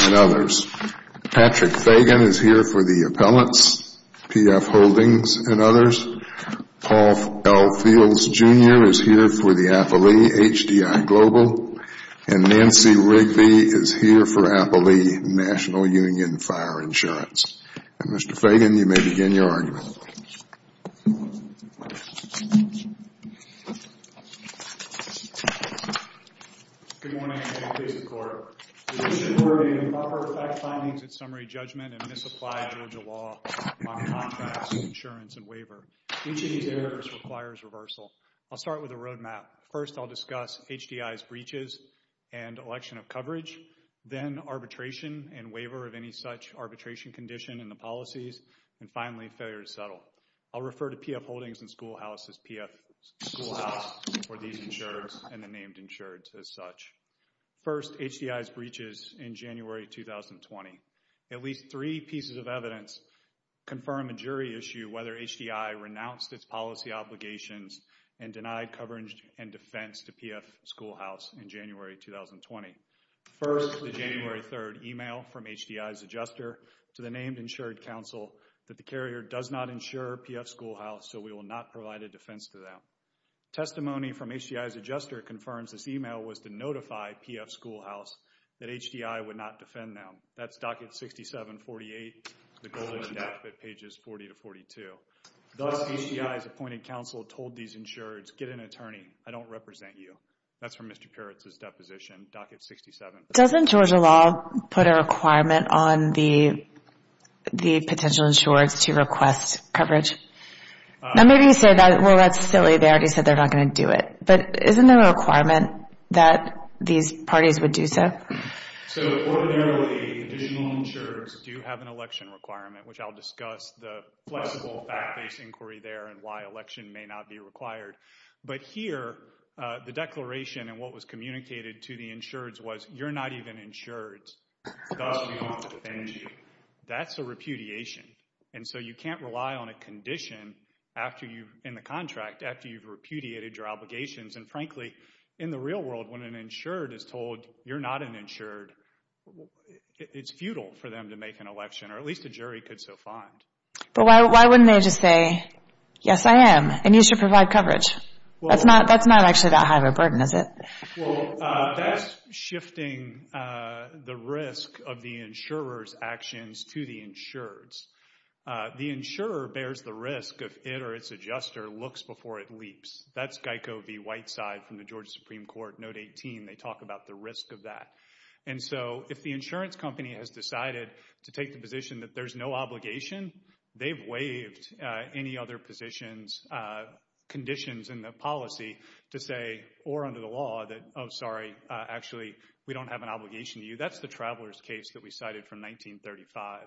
and others. Patrick Fagan is here for the appellants, PF Holdings and others. Paul L. Beals Jr. is here for the appellee, HDI Global, and Nancy Wrigley is here for appellee, National Union Fire Insurance. Mr. Fagan, you may begin your argument. Good morning. I'm here to face the court. In support of improper fact findings and summary judgment and misapplied Georgia law on contracts, insurance, and waiver, each of these areas requires reversal. I'll start with a roadmap. First, I'll discuss HDI's breaches and election of coverage, then arbitration and waiver of any such arbitration condition in the policies, and finally, failure to settle. I'll refer to PF Holdings and Schoolhouse as PF Schoolhouse for these insureds and the named insureds as such. First, HDI's breaches in January 2020. At least three pieces of evidence confirm a jury issue whether HDI renounced its policy obligations and denied coverage and defense to PF Schoolhouse in January 2020. First, the January 3rd email from HDI's adjuster to the named insured counsel that the carrier does not insure PF Schoolhouse, so we will not provide a defense to them. Testimony from HDI's adjuster confirms this email was to notify PF Schoolhouse that HDI would not defend them. That's docket 6748, the golden statute, pages 40 to 42. Thus, HDI's appointed counsel told these insureds, get an attorney. I don't represent you. That's from Mr. Peretz's deposition, docket 6748. Doesn't Georgia law put a requirement on the potential insureds to request coverage? Now maybe you say, well, that's silly. They already said they're not going to do it, but isn't there a requirement that these parties would do so? So ordinarily, additional insurers do have an election requirement, which I'll discuss the flexible fact-based inquiry there and why election may not be required. But here, the declaration and what was communicated to the insureds was, you're not even insured. That's a repudiation, and so you can't rely on a condition in the contract after you've repudiated your obligations. And frankly, in the real world, when an insured is told you're not an insured, it's futile for them to make an election, or at least a jury could so find. But why wouldn't they just say, yes, I am, and you should provide coverage? That's not actually that high of a burden, is it? Well, that's shifting the risk of the insurer's actions to the insured's. The insurer bears the risk if it or its adjuster looks before it leaps. That's Geico v. Whiteside from the And so if the insurance company has decided to take the position that there's no obligation, they've waived any other positions, conditions in the policy to say, or under the law, that, oh, sorry, actually, we don't have an obligation to you. That's the traveler's case that we cited from 1935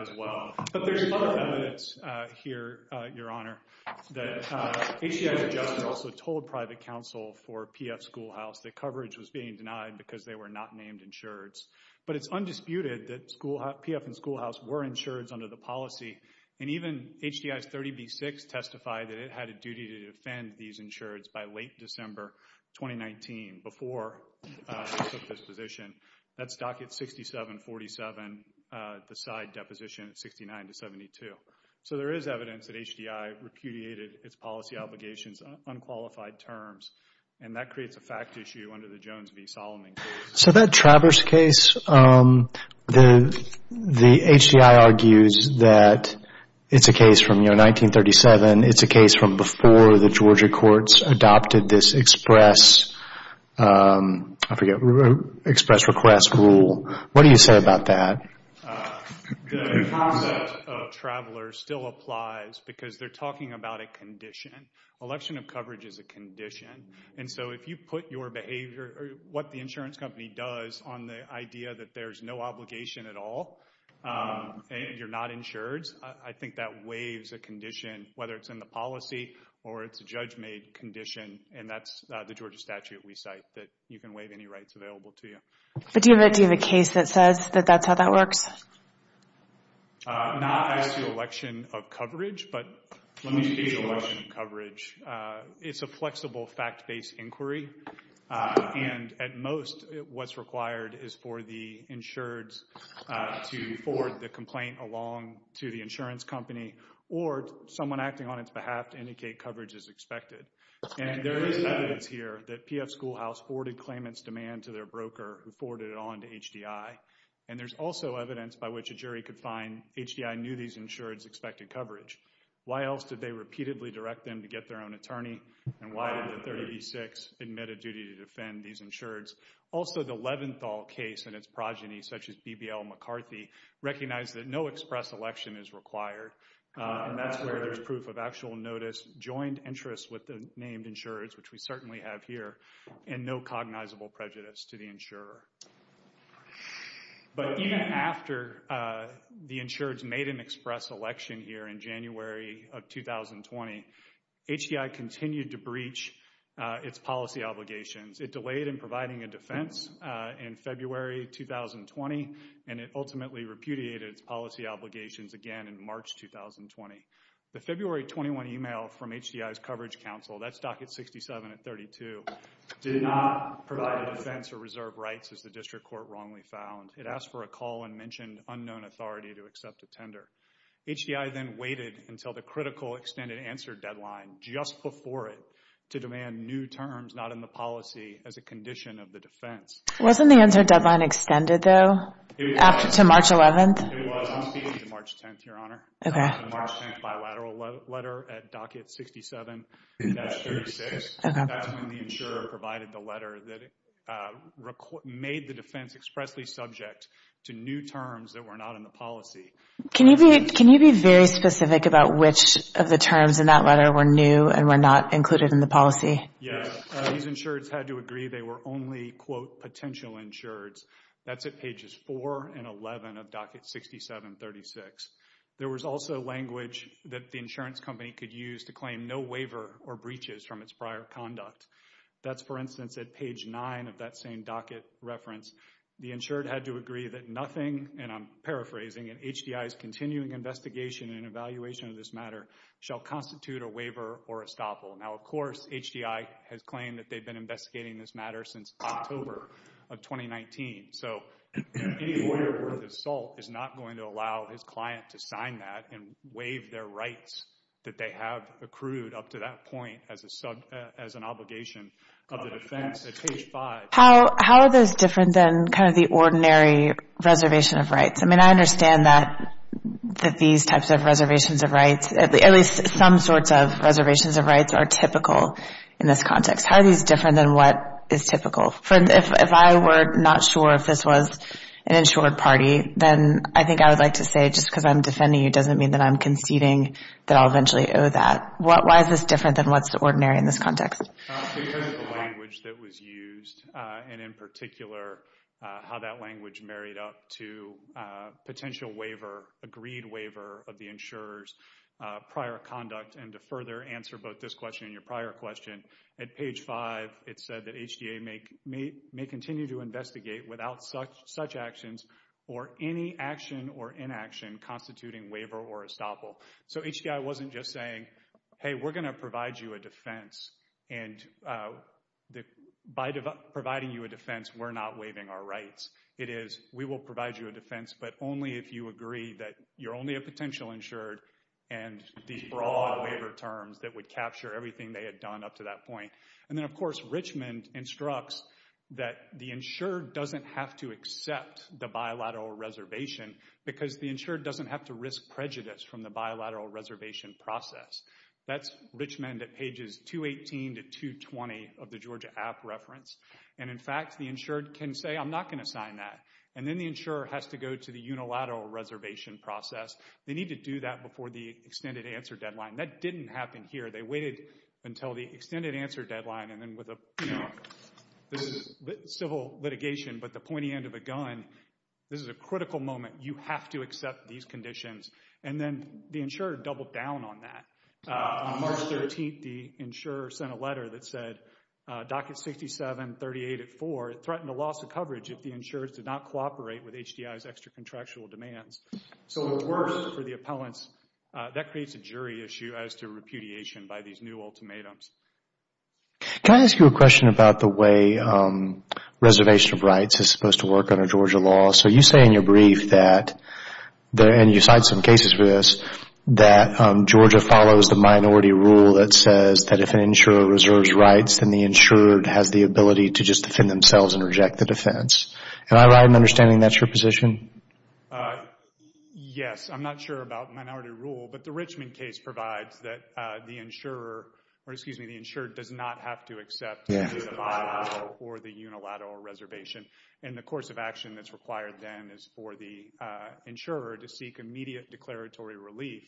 as well. But there's other evidence here, Your Honor, that HCI's adjuster also told private counsel for PF Schoolhouse that coverage was being denied because they were not named insureds. But it's undisputed that PF and Schoolhouse were insureds under the policy, and even HCI's 30B-6 testified that it had a duty to defend these insureds by late December 2019 before they took this position. That's docket 67-47, the side deposition at 69-72. So there is evidence that HCI repudiated its policy obligations on unqualified terms, and that creates a fact issue under the Jones v. Solomon case. So that traveler's case, the HCI argues that it's a case from 1937. It's a case from before the Georgia courts adopted this express request rule. What do you say about that? The concept of traveler still applies because they're talking about a condition. Election of coverage is a condition. And so if you put your behavior, what the insurance company does on the idea that there's no obligation at all, and you're not insured, I think that waives a condition, whether it's in the policy or it's a judge-made condition, and that's the Georgia statute we cite, that you can waive any rights available to you. But do you have a case that says that that's how that works? Not as to election of coverage, but let me speak to election of coverage. It's a flexible fact-based inquiry. And at most, what's required is for the insureds to forward the complaint along to the insurance company or someone acting on its behalf to indicate coverage is expected. And there is evidence here that PF Schoolhouse forwarded claimant's demand to their broker who forwarded it on to HDI. And there's also evidence by which a jury could find HDI knew these insureds expected coverage. Why else did they repeatedly direct them to get their own attorney? And why did the 36 admit a duty to defend these insureds? Also the Leventhal case and its progeny, such as BBL McCarthy, recognized that no express election is required. And that's where there's proof of actual notice, joined interests with named insurers, which we certainly have here, and no cognizable prejudice to the insurer. But even after the insureds made an express election here in January of 2020, HDI continued to breach its policy obligations. It delayed in providing a defense in February 2020, and it ultimately repudiated its policy obligations again in March 2020. The February 21 email from Docket 67 at 32 did not provide a defense or reserve rights, as the district court wrongly found. It asked for a call and mentioned unknown authority to accept a tender. HDI then waited until the critical extended answer deadline just before it to demand new terms not in the policy as a condition of the defense. Wasn't the answer deadline extended, though, to March 11th? It was. I'm speaking to March 10th, Your Honor. March 10th bilateral letter at Docket 67. That's when the insurer provided the letter that made the defense expressly subject to new terms that were not in the policy. Can you be very specific about which of the terms in that letter were new and were not included in the policy? Yeah, these insureds had to agree they were only, quote, potential insureds. That's at pages 4 and 11 of Docket 67-36. There was also language that insurance company could use to claim no waiver or breaches from its prior conduct. That's, for instance, at page 9 of that same Docket reference. The insured had to agree that nothing, and I'm paraphrasing, in HDI's continuing investigation and evaluation of this matter shall constitute a waiver or estoppel. Now, of course, HDI has claimed that they've been investigating this matter since October of 2019. So any lawyer worth his salt is not going to allow his client to sign that and waive their rights that they have accrued up to that point as an obligation of the defense at page 5. How are those different than kind of the ordinary reservation of rights? I mean, I understand that these types of reservations of rights, at least some sorts of reservations of rights, are typical in this context. How are these different than what is typical? If I were not sure if this was an insured party, then I think I would like to say just because I'm defending you doesn't mean that I'm conceding that I'll eventually owe that. Why is this different than what's ordinary in this context? Because of the language that was used and, in particular, how that language married up to a potential waiver, agreed waiver, of the insurer's prior conduct. And to further answer both this question and your prior question, at page 5, it said that HDA may continue to investigate without such actions or any action or inaction constituting waiver or estoppel. So HDI wasn't just saying, hey, we're going to provide you a defense and by providing you a defense, we're not waiving our rights. It is, we will provide you a defense, but only if you agree that you're only a potential insured and these broad terms that would capture everything they had done up to that point. And then, of course, Richmond instructs that the insured doesn't have to accept the bilateral reservation because the insured doesn't have to risk prejudice from the bilateral reservation process. That's Richmond at pages 218 to 220 of the Georgia app reference. And, in fact, the insured can say, I'm not going to sign that. And then the insurer has to go to the unilateral reservation process. They need to do that before the extended answer deadline. That didn't happen here. They waited until the extended answer deadline and then with a, you know, this is civil litigation, but the pointy end of a gun, this is a critical moment. You have to accept these conditions. And then the insurer doubled down on that. On March 13th, the insurer sent a letter that said, docket 6738 at 4, it threatened a loss of coverage if the insurers did not cooperate with HDI's extra contractual demands. So it was worse for the appellants. That creates a jury issue as to repudiation by these new ultimatums. Can I ask you a question about the way reservation of rights is supposed to work under Georgia law? So you say in your brief that, and you cite some cases for this, that Georgia follows the minority rule that says that if an insurer reserves rights, then the insured has the ability to just defend themselves and reject the defense. Am I right in understanding that's your position? Yes. I'm not sure about minority rule, but the Richmond case provides that the insurer, or excuse me, the insured does not have to accept or the unilateral reservation. And the course of action that's required then is for the insurer to seek immediate declaratory relief,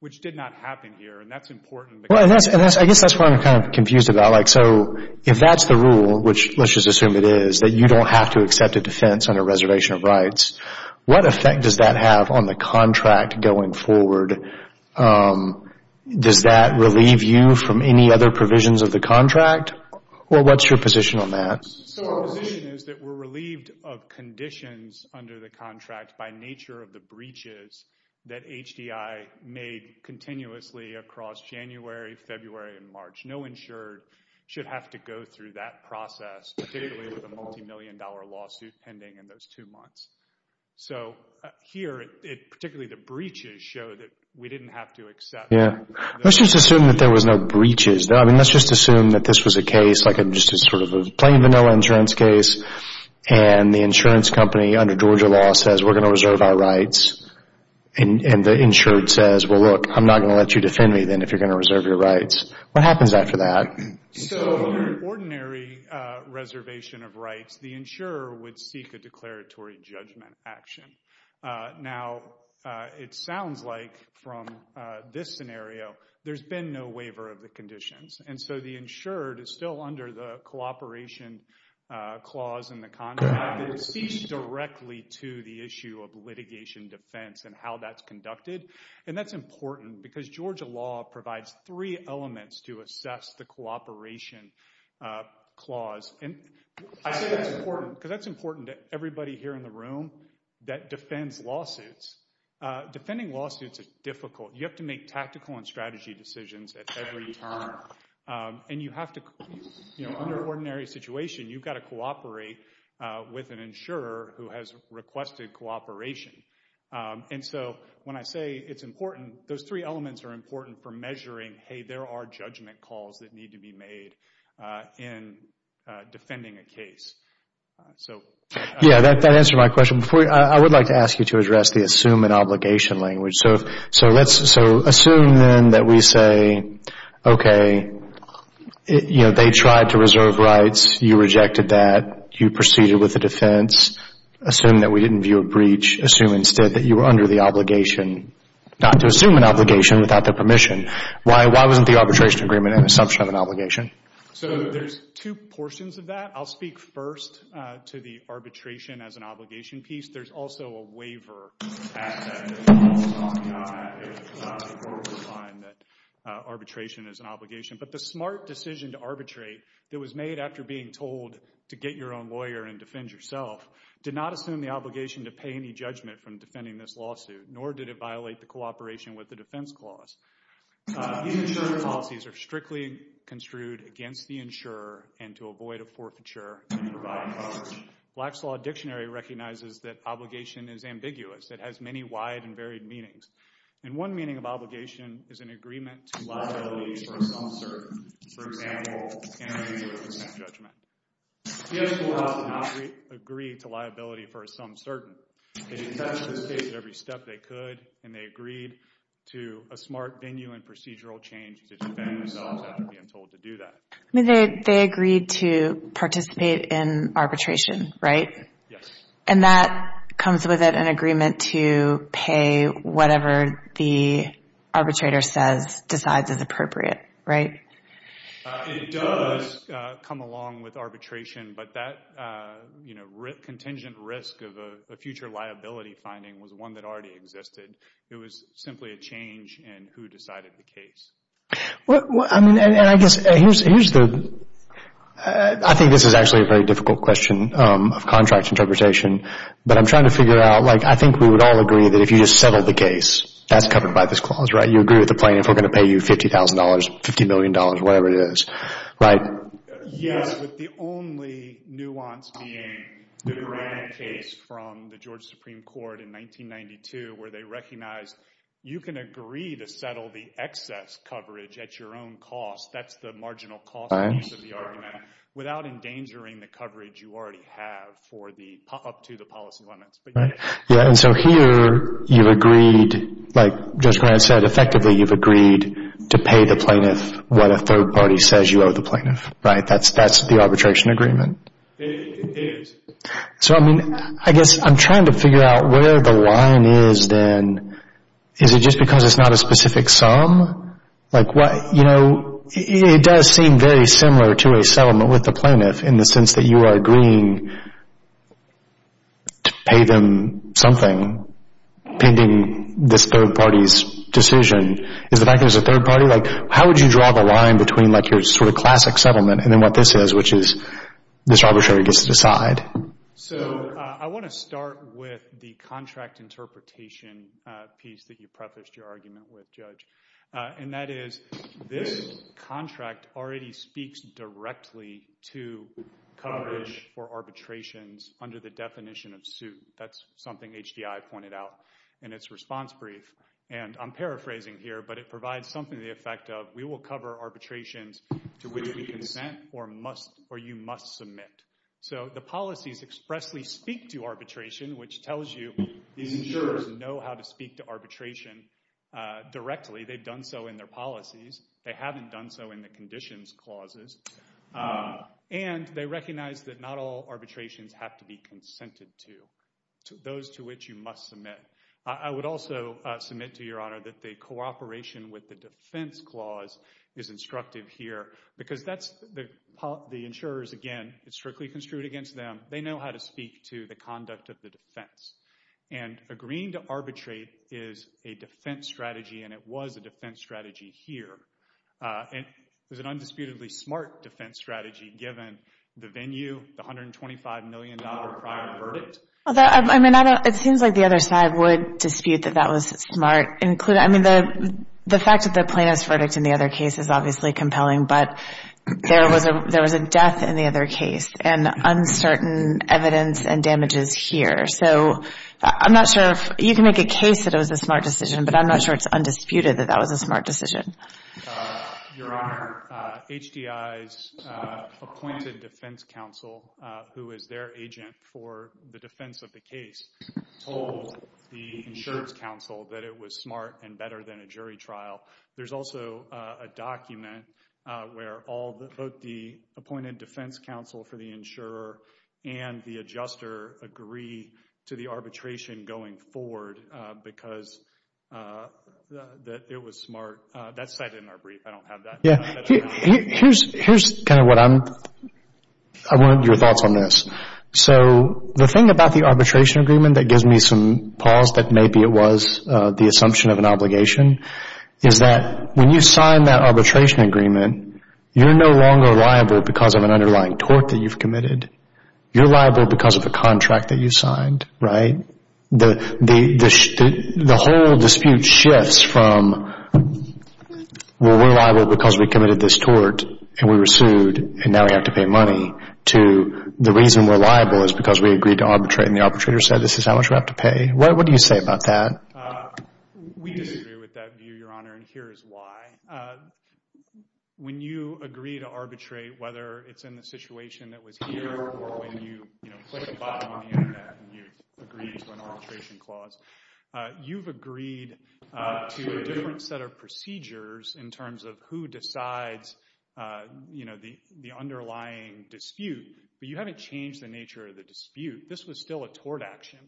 which did not happen here. And that's important. Well, I guess that's what I'm kind of confused about. Like, so if that's the rule, which let's assume it is, that you don't have to accept a defense under reservation of rights, what effect does that have on the contract going forward? Does that relieve you from any other provisions of the contract? Or what's your position on that? So our position is that we're relieved of conditions under the contract by nature of the breaches that HDI made continuously across January, February, and March. No insured should have to go through that process, particularly with a multi-million dollar lawsuit pending in those two months. So here, particularly the breaches show that we didn't have to accept. Yeah. Let's just assume that there was no breaches. I mean, let's just assume that this was a case, like just a sort of plain vanilla insurance case. And the insurance company under Georgia law says we're going to reserve our rights. And the insured says, well, look, I'm not going to let you defend me then if you're going to reserve your rights. What happens after that? So under ordinary reservation of rights, the insurer would seek a declaratory judgment action. Now, it sounds like from this scenario, there's been no waiver of the conditions. And so the insured is still under the cooperation clause in the contract. It speaks directly to the issue of provides three elements to assess the cooperation clause. And I say that's important because that's important to everybody here in the room that defends lawsuits. Defending lawsuits is difficult. You have to make tactical and strategy decisions at every turn. And you have to, you know, under ordinary situation, you've got to cooperate with an insurer who has requested cooperation. And so when I say it's important, those three elements are important for measuring, hey, there are judgment calls that need to be made in defending a case. So yeah, that answered my question. I would like to ask you to address the assume and obligation language. So let's assume then that we say, okay, you know, they tried to reserve rights. You rejected that. You proceeded with the defense. Assume that we didn't view a breach. Assume instead that you were under the obligation not to assume an obligation without their permission. Why wasn't the arbitration agreement an assumption of an obligation? So there's two portions of that. I'll speak first to the arbitration as an obligation piece. There's also a waiver. Arbitration is an obligation. But the smart decision to arbitrate that was made after being told to get your own lawyer and defend yourself, did not assume the obligation to pay any judgment from defending this lawsuit, nor did it violate the cooperation with the defense clause. These insurer policies are strictly construed against the insurer and to avoid a forfeiture and provide coverage. Black's Law Dictionary recognizes that obligation is ambiguous. It has many wide and varied meanings. And one meaning of obligation is an agreement to judgment. The U.S. courthouse did not agree to liability for some certain. They contested the case at every step they could, and they agreed to a smart venue and procedural change to defend themselves after being told to do that. I mean, they agreed to participate in arbitration, right? Yes. And that comes with an agreement to pay whatever the arbitrator says decides is appropriate, right? It does come along with arbitration, but that contingent risk of a future liability finding was one that already existed. It was simply a change in who decided the case. I think this is actually a very difficult question of contract interpretation, but I'm trying to figure out, like, I think we would all agree that if you just settle the case, that's covered by this clause, right? You agree with the plaintiff, we're going to pay you $50,000 or $50 million, whatever it is, right? Yes, but the only nuance being the Durant case from the Georgia Supreme Court in 1992, where they recognized you can agree to settle the excess coverage at your own cost, that's the marginal cost of the argument, without endangering the coverage you already have for the, up to the policy limits. Yeah, and so here you've agreed, like Judge Durant said, effectively you've agreed to pay the plaintiff what a third party says you owe the plaintiff, right? That's the arbitration agreement. So, I mean, I guess I'm trying to figure out where the line is then. Is it just because it's not a specific sum? Like what, you know, it does seem very similar to a settlement with the plaintiff in the sense that you are agreeing to pay them something pending this third party's decision. Is the fact that it's a third party, like how would you draw the line between like your sort of classic settlement and then what this is, which is this arbitrator gets to decide? So, I want to start with the contract interpretation piece that you prefaced your argument with, Judge, and that is this contract already speaks directly to coverage for arbitrations under the definition of suit. That's something HDI pointed out in its response brief, and I'm paraphrasing here, but it provides something to the effect of, we will cover arbitrations to which we consent or you must submit. So the policies expressly speak to arbitration, which tells you these insurers know how to speak to arbitration directly. They've done so in their policies. They haven't done so in the conditions clauses, and they recognize that not all arbitrations have to be consented to, those to which you must submit. I would also submit to your honor that the cooperation with the defense clause is instructive here because that's the insurers, again, it's strictly construed against them. They know how to speak to the conduct of the defense, and agreeing to arbitrate is a defense strategy, and it was a defense strategy here, and it was an undisputedly smart defense strategy given the venue, the $125 million prior verdict. Although, I mean, I don't, it seems like the other side would dispute that that was smart, including, I mean, the fact that the plaintiff's verdict in the other case is obviously compelling, but there was a death in the other case, and uncertain evidence and damages here. So I'm not sure if, you can make a case that it was a smart decision, but I'm not sure it's undisputed that that was a smart decision. Your honor, HDI's appointed defense counsel, who is their agent for the defense of the case, told the insurance counsel that it was smart and better than a jury trial. There's also a document where all the, both the appointed defense counsel for the insurer and the adjuster agree to the arbitration going forward because that it was smart. That's cited in our brief. I don't have that. Yeah, here's kind of what I'm, I want your thoughts on this. So the thing about the arbitration agreement that gives me some pause that maybe it was the assumption of an obligation is that when you sign that arbitration agreement, you're no longer liable because of an underlying tort that you've committed. You're liable because of a contract that you signed, right? The whole dispute shifts from, well, we're liable because we committed this tort and we were sued and now we have to pay money, to the reason we're liable is because we agreed to arbitrate and the arbitrator said this is how you have to pay. What do you say about that? We disagree with that view, Your Honor, and here's why. When you agree to arbitrate, whether it's in the situation that was here or when you, you know, click the button on the internet and you agree to an arbitration clause, you've agreed to a different set of procedures in terms of who decides, you know, the underlying dispute, but you haven't changed the nature of the dispute. This was still a tort action.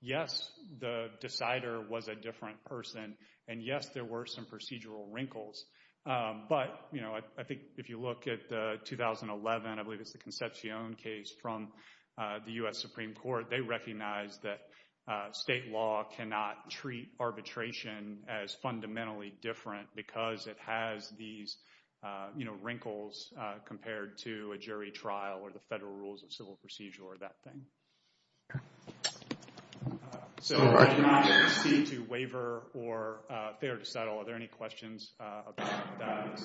Yes, the decider was a different person, and yes, there were some procedural wrinkles, but, you know, I think if you look at the 2011, I believe it's the Concepcion case from the U.S. Supreme Court, they recognized that state law cannot treat arbitration as fundamentally different because it has these, you know, wrinkles compared to a jury trial or the federal rules of So I do not ask you to waver or fear to settle. Are there any questions about that?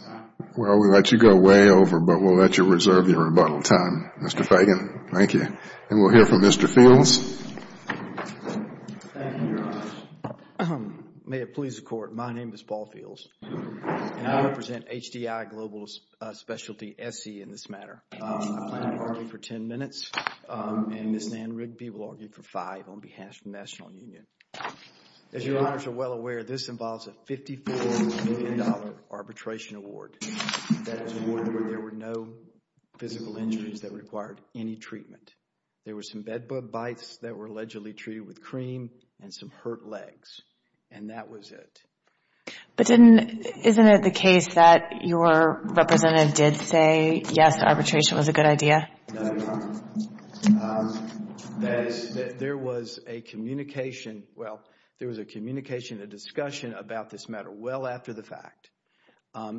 Well, we'll let you go way over, but we'll let you reserve your rebuttal time, Mr. Fagan. Thank you, and we'll hear from Mr. Fields. May it please the Court, my name is Paul Fields, and I represent HDI Global Specialty, SC, in this matter. I plan to argue for 10 minutes, and Ms. Nan Rigby will argue for five on behalf of the National Union. As your honors are well aware, this involves a $54 million arbitration award. There were no physical injuries that required any treatment. There were some bed bug bites that were allegedly treated with cream and some hurt legs, and that was it. But isn't it the case that your representative did say, yes, arbitration was a good idea? No. That is, there was a communication, well, there was a communication, a discussion about this matter well after the fact,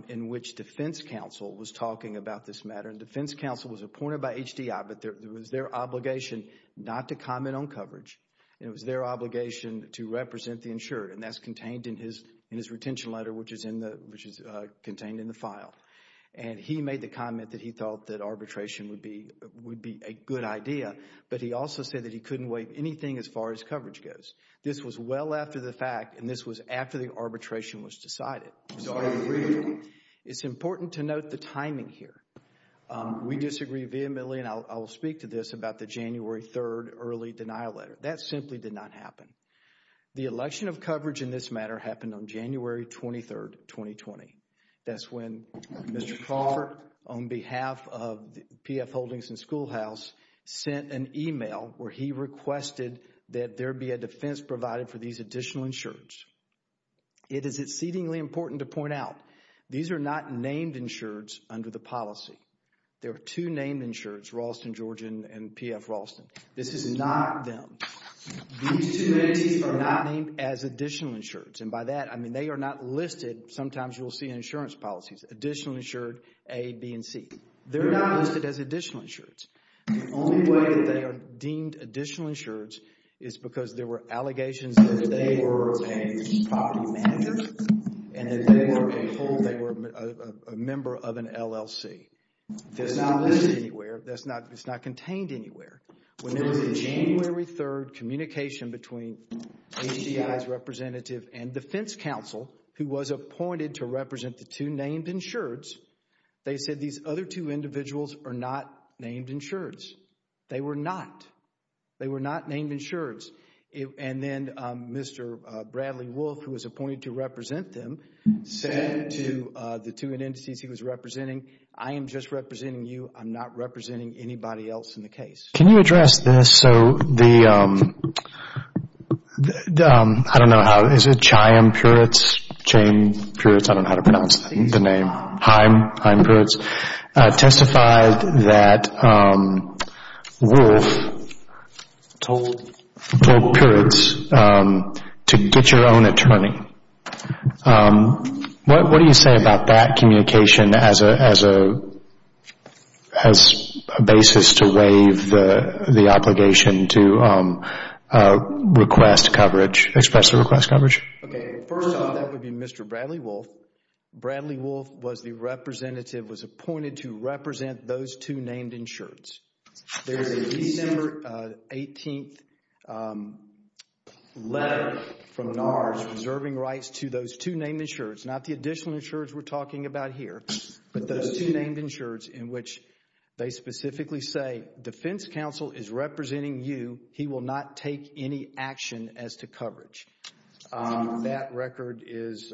in which defense counsel was talking about this matter, and defense counsel was appointed by HDI, but there was their obligation not to comment on coverage. It was their obligation to represent the insured, and that's contained in his retention letter, which is contained in the file. And he made the comment that he thought that arbitration would be a good idea, but he also said that he couldn't wait anything as far as coverage goes. This was well after the fact, and this was after the arbitration was decided. It's important to note the timing here. We disagree vehemently, and I will speak to this about the January 3rd early denial letter. That simply did not happen. The election of coverage in this matter happened on January 23rd, 2020. That's when Mr. Crawford, on behalf of P.F. Holdings and Schoolhouse, sent an email where he requested that there be a defense provided for these additional insureds. It is exceedingly important to point out, these are not named insureds under the policy. There are two named insureds, Ralston Georgian and P.F. Ralston. This is not them. These two entities are not named as additional insureds, and by that, I mean they are not listed. Sometimes you'll see insurance policies, additional insured A, B, and C. They're not listed as additional insureds. The only way that they are deemed additional insureds is because there were allegations that they were a property manager and that they were a member of an LLC. That's not listed anywhere. That's not contained anywhere. When there was a January 3rd communication between HDI's representative and defense counsel, who was appointed to represent the two named insureds, they said these other two individuals are not named insureds. They were not. They were not named insureds, and then Mr. Bradley Wolfe, who was appointed to represent them, said to the entities he was representing, I am just representing you. I'm not representing anybody else in the case. Can you address this? I don't know how. Is it Chaim Perutz? I don't know how to pronounce the name. Chaim Perutz testified that Wolfe told Perutz to get your own attorney. What do you say about that communication as a basis to waive the obligation to request coverage, express the request coverage? First off, that would be Mr. Bradley Wolfe. Bradley Wolfe was the representative, was appointed to represent those two named insureds. There's a December 18th letter from NARS reserving rights to those two named insureds, not the additional insureds we're talking about here, but those two named insureds in which they specifically say defense counsel is representing you. He will not take any action as to coverage. That record is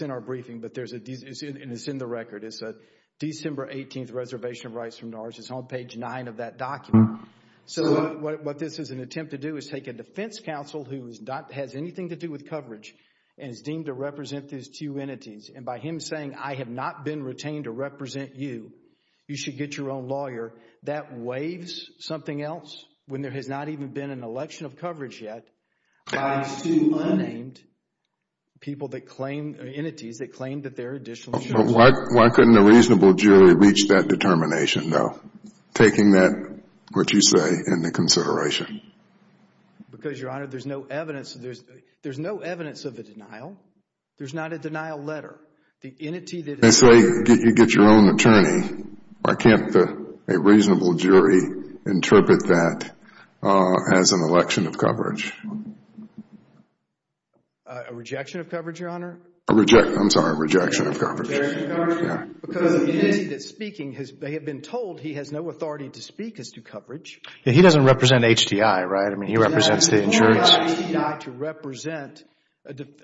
in our briefing, but it's in the record. It's a reservation of rights from NARS. It's on page nine of that document. What this is an attempt to do is take a defense counsel who has anything to do with coverage and is deemed to represent these two entities. By him saying, I have not been retained to represent you, you should get your own lawyer, that waives something else when there has not even been an election of coverage yet by two unnamed entities that claim that they're additional insured. Why couldn't a reasonable jury reach that determination though, taking that, what you say, into consideration? Because, Your Honor, there's no evidence of a denial. There's not a denial letter. They say you get your own attorney. Why can't a reasonable jury interpret that as an election of coverage? A rejection of coverage, Your Honor? I'm sorry, a rejection of coverage. Because of the entity that's speaking, they have been told he has no authority to speak as to coverage. He doesn't represent HDI, right? I mean, he represents the insurance.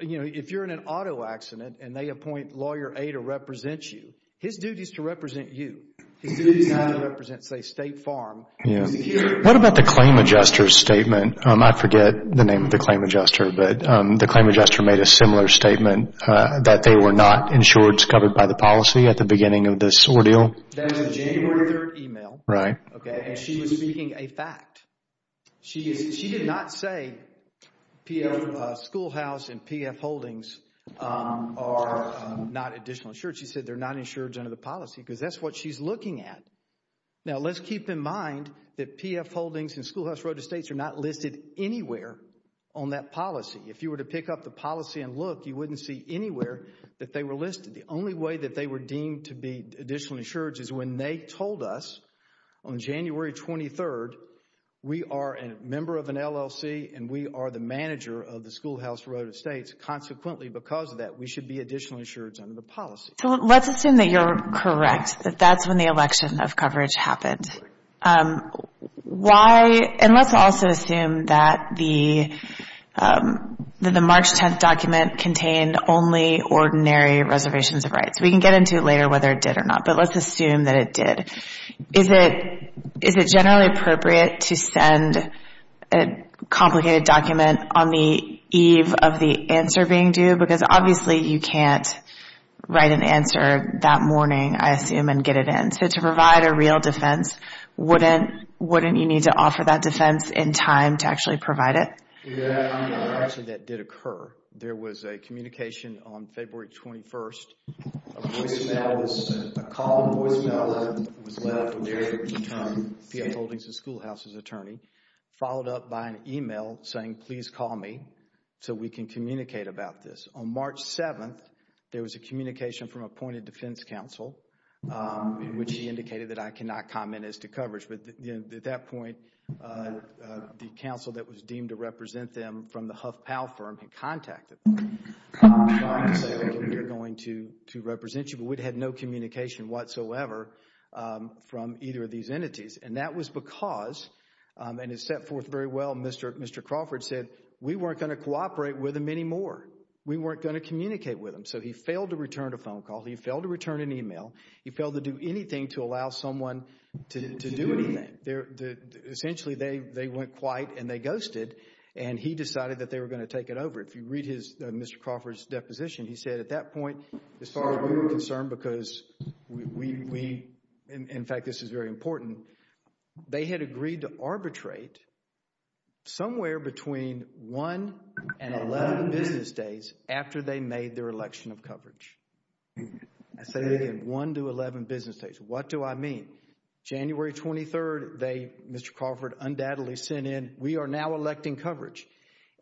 If you're in an auto accident and they appoint lawyer A to represent you, his duty is to represent you. His duty is not to represent, say, State Farm. What about the claim adjuster's statement? I forget the name of the claim adjuster, but the claim adjuster made a similar statement that they were not insured, covered by the policy at the beginning of this ordeal. That was a January 3rd email, and she was speaking a fact. She did not say Schoolhouse and PF Holdings are not additional insured. She said they're not insured under the policy because that's what she's looking at. Now, let's keep in mind that PF Holdings and If you were to pick up the policy and look, you wouldn't see anywhere that they were listed. The only way that they were deemed to be additional insured is when they told us on January 23rd, we are a member of an LLC and we are the manager of the Schoolhouse for Road to States. Consequently, because of that, we should be additional insured under the policy. So let's assume that you're correct, that that's when the election of coverage happened. And let's also assume that the March 10th document contained only ordinary reservations of rights. We can get into it later whether it did or not, but let's assume that it did. Is it generally appropriate to send a complicated document on the eve of the answer being due? Because obviously you can't write an answer that morning, I assume, and get it in. To provide a real defense, wouldn't you need to offer that defense in time to actually provide it? Actually, that did occur. There was a communication on February 21st, a call, a voicemail that was left from the PF Holdings and Schoolhouses attorney, followed up by an email saying, please call me so we can communicate about this. On March 7th, there was a communication from appointed defense counsel, which he indicated that I cannot comment as to coverage. But at that point, the counsel that was deemed to represent them from the HuffPAL firm had contacted them to say, we're going to represent you. But we'd had no communication whatsoever from either of these entities. And that was because, and it's set forth very well, Mr. Crawford said, we weren't going to cooperate with them anymore. We weren't going to communicate with them. So he failed to return a phone call. He failed to return an email. He failed to do anything to allow someone to do anything. Essentially, they went quiet and they ghosted, and he decided that they were going to take it over. If you read Mr. Crawford's deposition, he said at that point, as far as we were concerned, because we, in fact, this is very important, they had agreed to arbitrate somewhere between one and eleven business days after they made their election of coverage. I say it again, one to eleven business days. What do I mean? January 23rd, they, Mr. Crawford, undoubtedly sent in, we are now electing coverage.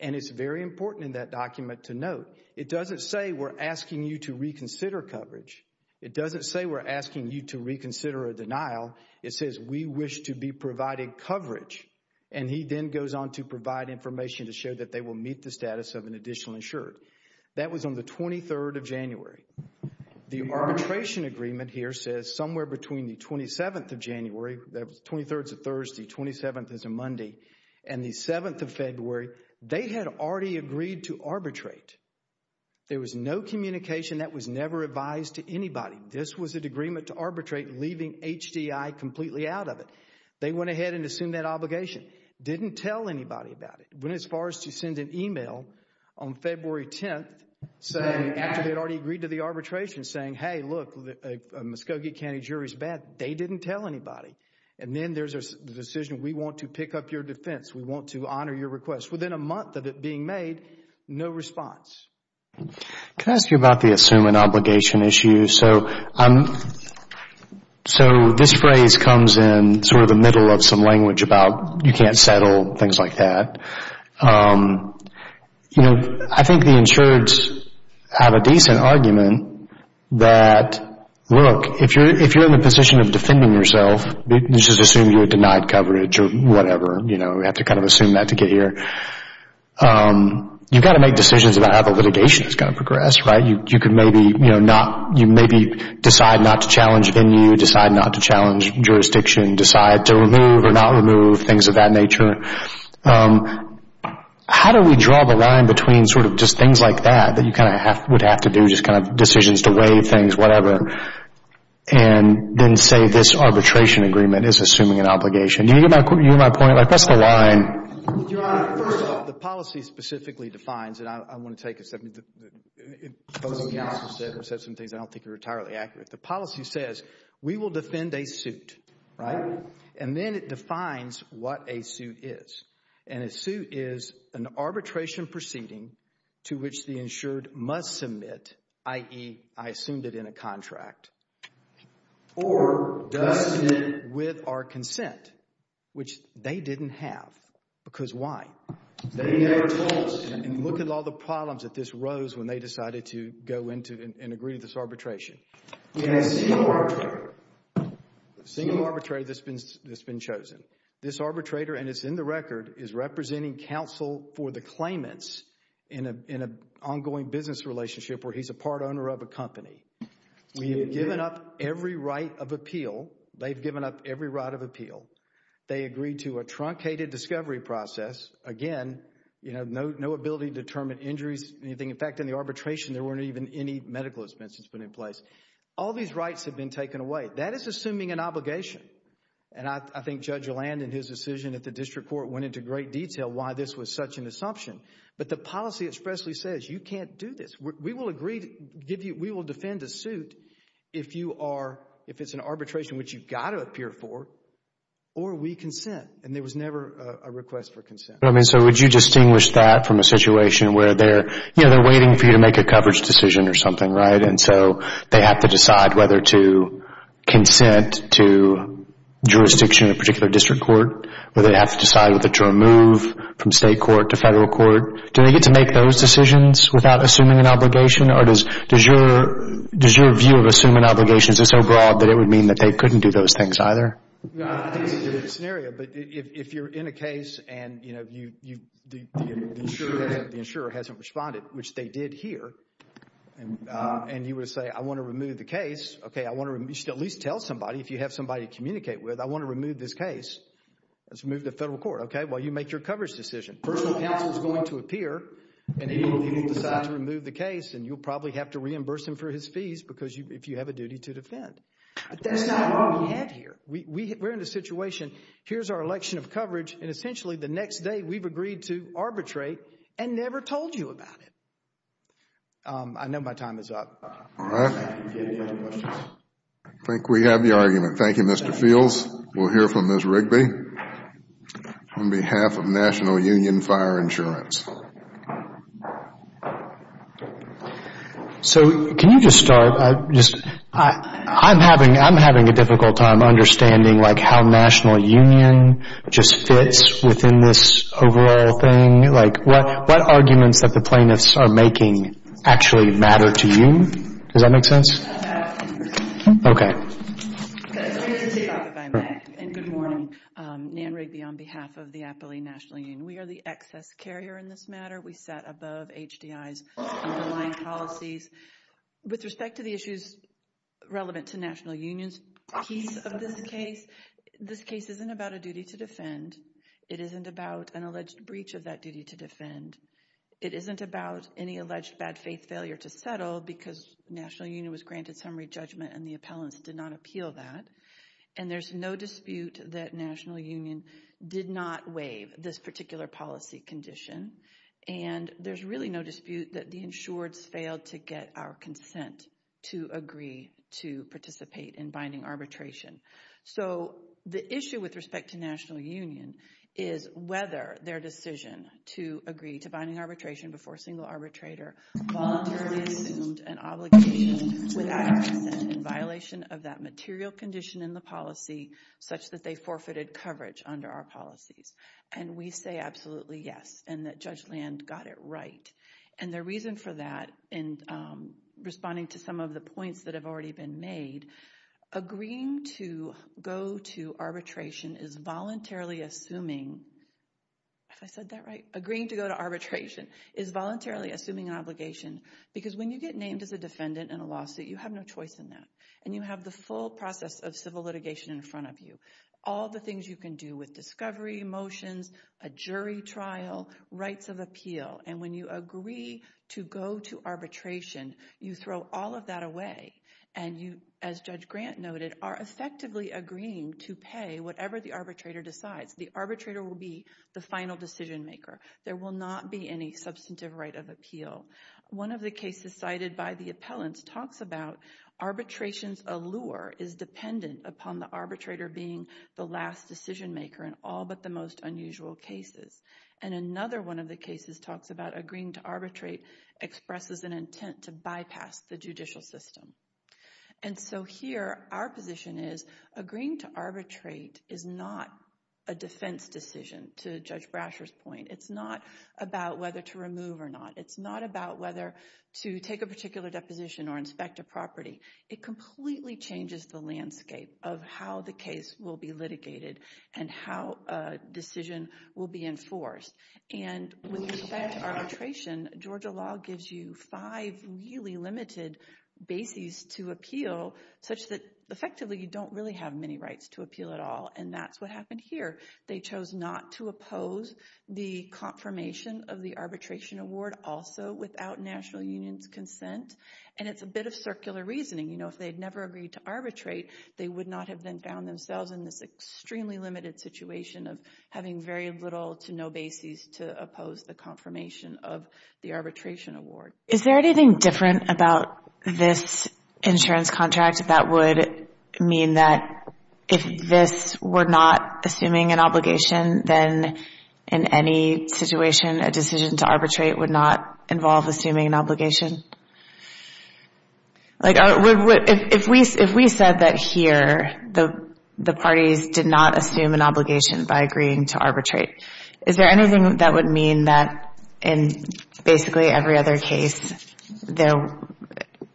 And it's very important in that document to note, it doesn't say we're asking you to reconsider coverage. It doesn't say we're asking you to reconsider a denial. It says we wish to be providing coverage. And he then goes on to provide information to show that they will meet the status of an arbitration agreement on the 23rd of January. The arbitration agreement here says somewhere between the 27th of January, that was 23rd is a Thursday, 27th is a Monday, and the 7th of February, they had already agreed to arbitrate. There was no communication that was never advised to anybody. This was an agreement to arbitrate, leaving HDI completely out of it. They went ahead and assumed that obligation. Didn't tell anybody about it. Went as far as to send an email on February 10th, after they had already agreed to the arbitration, saying, hey, look, a Muskogee County jury is bad. They didn't tell anybody. And then there's the decision, we want to pick up your defense. We want to honor your request. Within a month of it being made, no response. Can I ask you about the assume an obligation issue? So this phrase comes in sort of the insured's have a decent argument that, look, if you're in the position of defending yourself, just assume you're denied coverage or whatever. We have to kind of assume that to get here. You've got to make decisions about how the litigation is going to progress, right? You maybe decide not to challenge venue, decide not to challenge jurisdiction, decide to remove or not remove, things of that nature. How do we draw the line between sort of just things like that, that you kind of would have to do, just kind of decisions to waive things, whatever, and then say this arbitration agreement is assuming an obligation? Do you hear my point? Like, what's the line? Your Honor, first of all, the policy specifically defines, and I want to take a second. The policy says, we will defend a suit, right? And then it defines what a suit is. And a suit is an arbitration proceeding to which the insured must submit, i.e., I assumed it in a contract, or does submit with our consent, which they didn't have. Because why? They never told us. And look at all the problems that this rose when they decided to go into and agree to this arbitration. The single arbitrator that's been chosen. This arbitrator, and it's in the record, is representing counsel for the claimants in an ongoing business relationship where he's a part owner of a company. We've given up every right of appeal. They've given up every right of appeal. They agreed to a truncated discovery process. Again, you know, no ability to determine injuries, anything. In fact, in the arbitration, there weren't even any medical expenses put in place. All these rights have been taken away. That is assuming an obligation. And I think Judge Landon, his decision at the district court, went into great detail why this was such an assumption. But the policy expressly says, you can't do this. We will agree to give you, we will defend a suit if you are, if it's an arbitration which you've got to appear for, or we consent. And there was never a request for consent. I mean, so would you distinguish that from a situation where they're, you know, they're waiting for you to make a coverage decision or something, right? And so they have to decide whether to consent to jurisdiction in a particular district court, or they have to decide whether to remove from state court to federal court. Do they get to make those decisions without assuming an obligation? Or does your view of assuming obligations is so broad that it would mean that they couldn't do those things either? I think it's a good scenario. But if you're in a case and, you know, the insurer hasn't responded, which they did here, and you would say, I want to remove the case. Okay, I want to, you should at least tell somebody, if you have somebody to communicate with, I want to remove this case. Let's move to federal court. Okay, well, you make your coverage decision. Personal counsel is going to appear and he will decide to remove the case and you'll probably have to reimburse him for his fees because if you have a duty to defend. That's not what we have here. We're in a situation, here's our election of coverage, and essentially the next day we've agreed to arbitrate and never told you about it. I know my time is up. All right. I think we have the argument. Thank you, Mr. Fields. We'll hear from Ms. Rigby on behalf of National Union Fire Insurance. So can you just start? I'm having a difficult time understanding, like, National Union just fits within this overall thing. Like, what arguments that the plaintiffs are making actually matter to you? Does that make sense? Okay. And good morning. Nan Rigby on behalf of the Appalachian National Union. We are the excess carrier in this matter. We sat above HDI's underlying policies. With respect to the issues relevant to National Union's piece of this case, this case isn't about a duty to defend. It isn't about an alleged breach of that duty to defend. It isn't about any alleged bad faith failure to settle because National Union was granted summary judgment and the appellants did not appeal that. And there's no dispute that National Union did not waive this particular policy condition. And there's really no dispute that the insureds failed to get our consent to agree to participate in binding arbitration. So the issue with respect to National Union is whether their decision to agree to binding arbitration before a single arbitrator voluntarily assumed an obligation without our consent in violation of that material condition in the policy such that they forfeited coverage under our policies. And we say absolutely yes and that Judge Land got it right. And the reason for that in responding to some of the points that have already been made, agreeing to go to arbitration is voluntarily assuming, if I said that right, agreeing to go to arbitration is voluntarily assuming an obligation because when you get named as a defendant in a lawsuit, you have no choice in that. And you have the full process of civil litigation in front of you. All the things you can do with discovery motions, a jury trial, rights of appeal. And when you agree to go to arbitration, you throw all of that away and you, as Judge Grant noted, are effectively agreeing to pay whatever the arbitrator decides. The arbitrator will be the final decision maker. There will not be any substantive right of appeal. One of the cases cited by the appellants talks about arbitration's allure is dependent upon the arbitrator being the last decision maker in all but the most unusual cases. And another one of the cases talks about agreeing to arbitrate expresses an intent to bypass the judicial system. And so here, our position is, agreeing to arbitrate is not a defense decision, to Judge Brasher's point. It's not about whether to remove or not. It's not about whether to take a particular deposition or inspect a property. It completely changes the landscape of how the case will be litigated and how a decision will be enforced. And with respect to arbitration, Georgia law gives you five really limited bases to appeal such that effectively you don't really have many rights to appeal at all. And that's what happened here. They chose not to oppose the confirmation of the arbitration award also without national union's consent. And it's a bit of circular reasoning. You know, if they'd never agreed to arbitrate, they would not have then found themselves in this extremely limited situation of having very little to no bases to oppose the confirmation of the arbitration award. Is there anything different about this insurance contract that would mean that if this were not assuming an obligation, then in any situation, a decision to arbitrate would not by agreeing to arbitrate? Is there anything that would mean that in basically every other case, though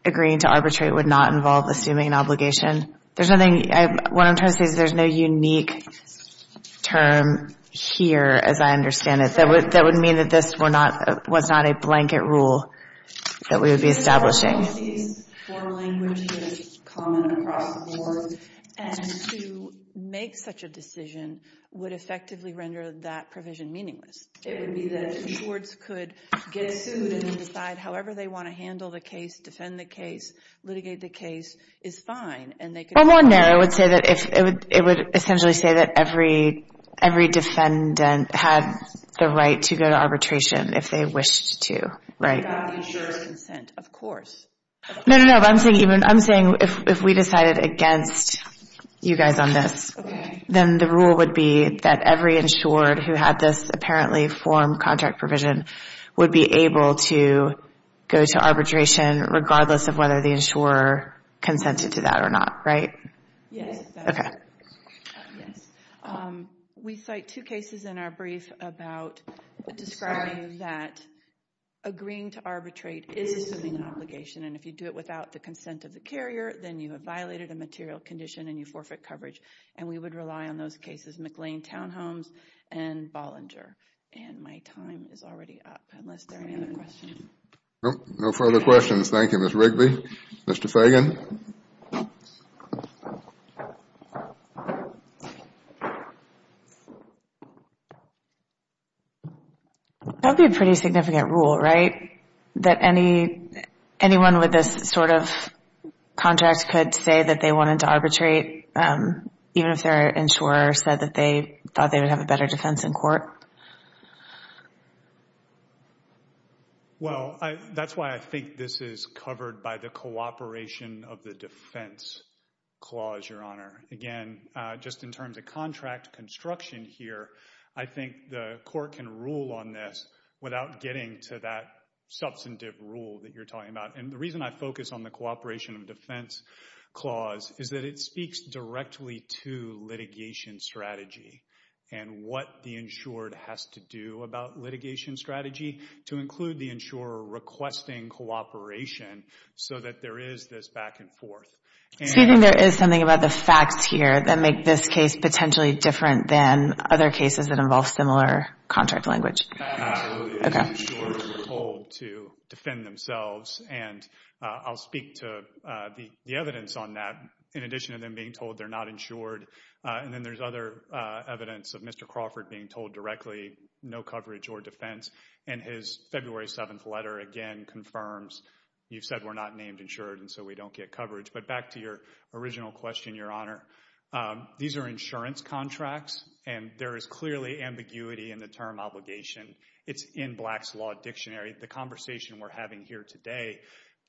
agreeing to arbitrate would not involve assuming an obligation? There's nothing, what I'm trying to say is there's no unique term here, as I understand it, that would mean that this was not a blanket rule that we would be establishing. All of these foreign languages common across the board. And to make such a decision would effectively render that provision meaningless. It would be that insureds could get sued and decide however they want to handle the case, defend the case, litigate the case, is fine. And they could- Well, more narrow, I would say that if it would essentially say that every defendant had the right to go to arbitration if they wished to, right? Without the insurer's consent, of course. No, no, no, I'm saying if we decided against you guys on this, then the rule would be that every insured who had this apparently formed contract provision would be able to go to arbitration regardless of whether the insurer consented to that or not, right? Yes, yes. We cite two cases in our brief about describing that agreeing to arbitrate is an obligation. And if you do it without the consent of the carrier, then you have violated a material condition and you forfeit coverage. And we would rely on those cases, McLean Townhomes and Bollinger. And my time is already up, unless there are any other questions. No further questions. Thank you, Ms. Rigby. Mr. Fagan. That would be a pretty significant rule, right? That anyone with this sort of contract could say that they wanted to arbitrate, even if their insurer said that they thought they would have a better defense in court? Well, that's why I think this is covered by the cooperation of the defense clause, Your Honor. Again, just in terms of contract construction here, I think the court can rule on this without getting to that substantive rule that you're talking about. And the reason I focus on the cooperation of defense clause is that it speaks directly to litigation strategy and what the insured has to do about litigation strategy to include the insurer requesting cooperation so that there is this back and forth. So you think there is something about the facts here that make this case potentially different than other cases that involve similar contract language? Absolutely. The insurers are told to defend themselves. And I'll speak to the evidence on that in addition to them being told they're not insured. And then there's other evidence of Mr. or defense. And his February 7th letter, again, confirms you've said we're not named insured, and so we don't get coverage. But back to your original question, Your Honor. These are insurance contracts, and there is clearly ambiguity in the term obligation. It's in Black's Law Dictionary. The conversation we're having here today,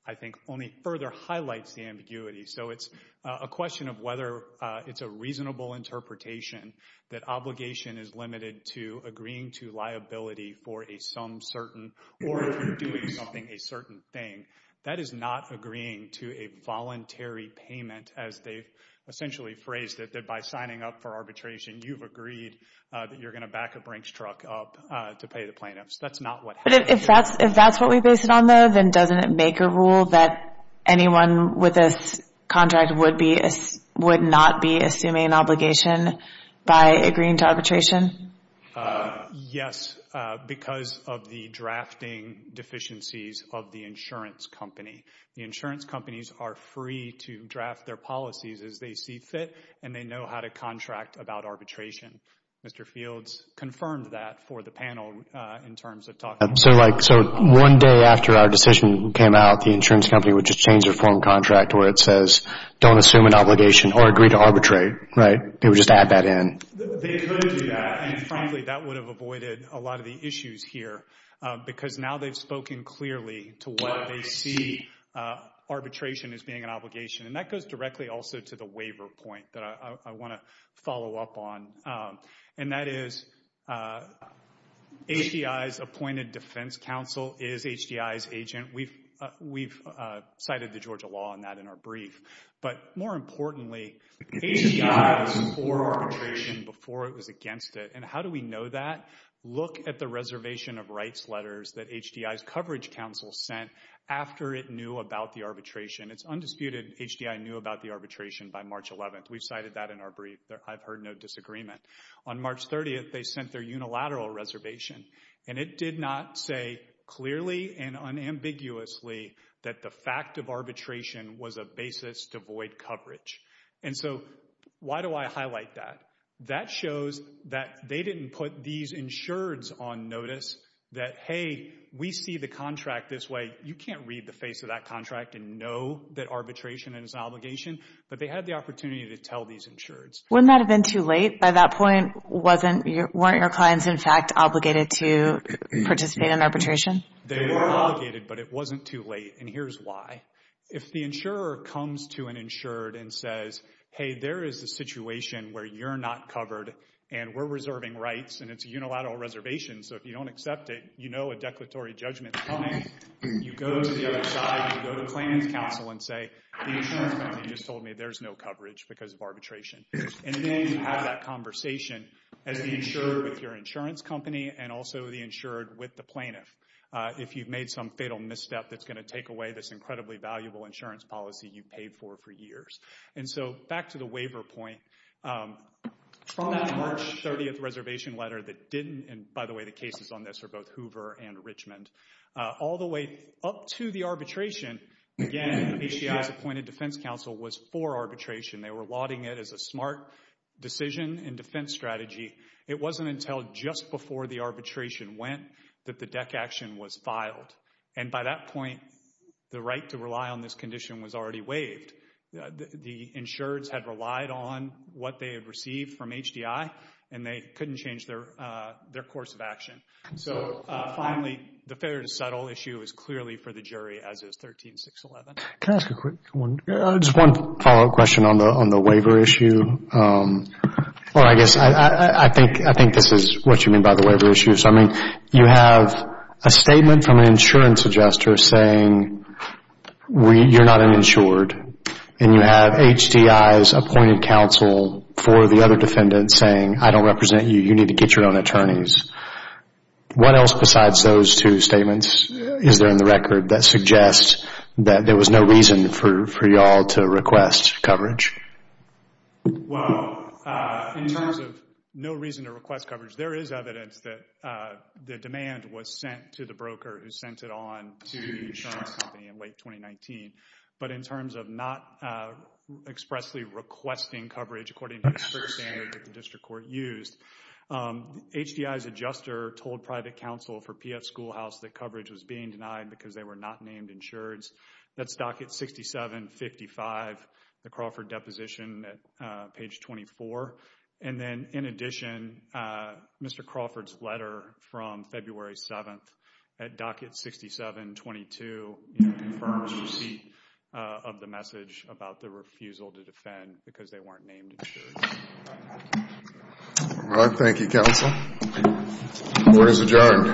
I think, only further highlights the ambiguity. So it's a question of whether it's a reasonable interpretation that obligation is limited to agreeing to liability for a some certain, or if you're doing something, a certain thing. That is not agreeing to a voluntary payment, as they've essentially phrased it, that by signing up for arbitration, you've agreed that you're going to back a brink truck up to pay the plaintiffs. That's not what happens. If that's what we base it on, though, then doesn't it make a rule that anyone with this obligation by agreeing to arbitration? Yes, because of the drafting deficiencies of the insurance company. The insurance companies are free to draft their policies as they see fit, and they know how to contract about arbitration. Mr. Fields confirmed that for the panel in terms of talking. So one day after our decision came out, the insurance company would just change their form contract where it says, don't assume an obligation or agree to arbitrate, right? They would just add that in. They could do that, and frankly, that would have avoided a lot of the issues here, because now they've spoken clearly to what they see arbitration as being an obligation, and that goes directly also to the waiver point that I want to follow up on, and that is HDI's appointed defense counsel is HDI's agent. We've cited the Georgia law on that in our brief, but more importantly, HDI was for arbitration before it was against it, and how do we know that? Look at the reservation of rights letters that HDI's coverage counsel sent after it knew about the arbitration. It's undisputed. HDI knew about the arbitration by March 11th. We've cited that in our brief. I've heard no disagreement. On March 30th, they sent their unilateral reservation, and it did not say clearly and unambiguously that the fact of arbitration was a basis to void coverage, and so why do I highlight that? That shows that they didn't put these insureds on notice that, hey, we see the contract this way. You can't read the face of that contract and know that arbitration is an obligation, but they had the opportunity to tell these insureds. Wouldn't that have been too late? By that point, weren't your clients, in fact, obligated to participate in arbitration? They were obligated, but it wasn't too late, and here's why. If the insurer comes to an insured and says, hey, there is a situation where you're not covered, and we're reserving rights, and it's a unilateral reservation, so if you don't accept it, you know a declaratory judgment is coming. You go to the other side. You go to the plaintiff's counsel and say, the insurer's there's no coverage because of arbitration, and then you have that conversation as the insurer with your insurance company and also the insured with the plaintiff if you've made some fatal misstep that's going to take away this incredibly valuable insurance policy you paid for for years, and so back to the waiver point. From that March 30th reservation letter that didn't, and by the way, the cases on this are both Hoover and Richmond, all the way up to the arbitration, again, HDI's appointed defense counsel was for arbitration. They were lauding it as a smart decision and defense strategy. It wasn't until just before the arbitration went that the DEC action was filed, and by that point, the right to rely on this condition was already waived. The insureds had relied on what they had received from HDI, and they couldn't change their course of action. Finally, the failure to settle issue is clearly for the jury as is 13-611. Can I ask a quick one? Just one follow-up question on the waiver issue. I think this is what you mean by the waiver issue. You have a statement from an insurance adjuster saying you're not an insured, and you have HDI's appointed counsel for the other defendant saying, I don't represent you. You need to get your own attorneys. What else besides those two statements is there in the record that suggests that there was no reason for you all to request coverage? Well, in terms of no reason to request coverage, there is evidence that the demand was sent to the broker who sent it on to the insurance company in late 2019, but in terms of not expressly requesting coverage according to the strict standards that the district court used, HDI's adjuster told private counsel for PF Schoolhouse that coverage was being denied because they were not named insureds. That's docket 6755, the Crawford deposition at page 24. And then, in addition, Mr. Crawford's letter from February 7th at docket 6722 confirms receipt of the message about the refusal to defend because they weren't named insured. All right. Thank you, counsel. Court is adjourned.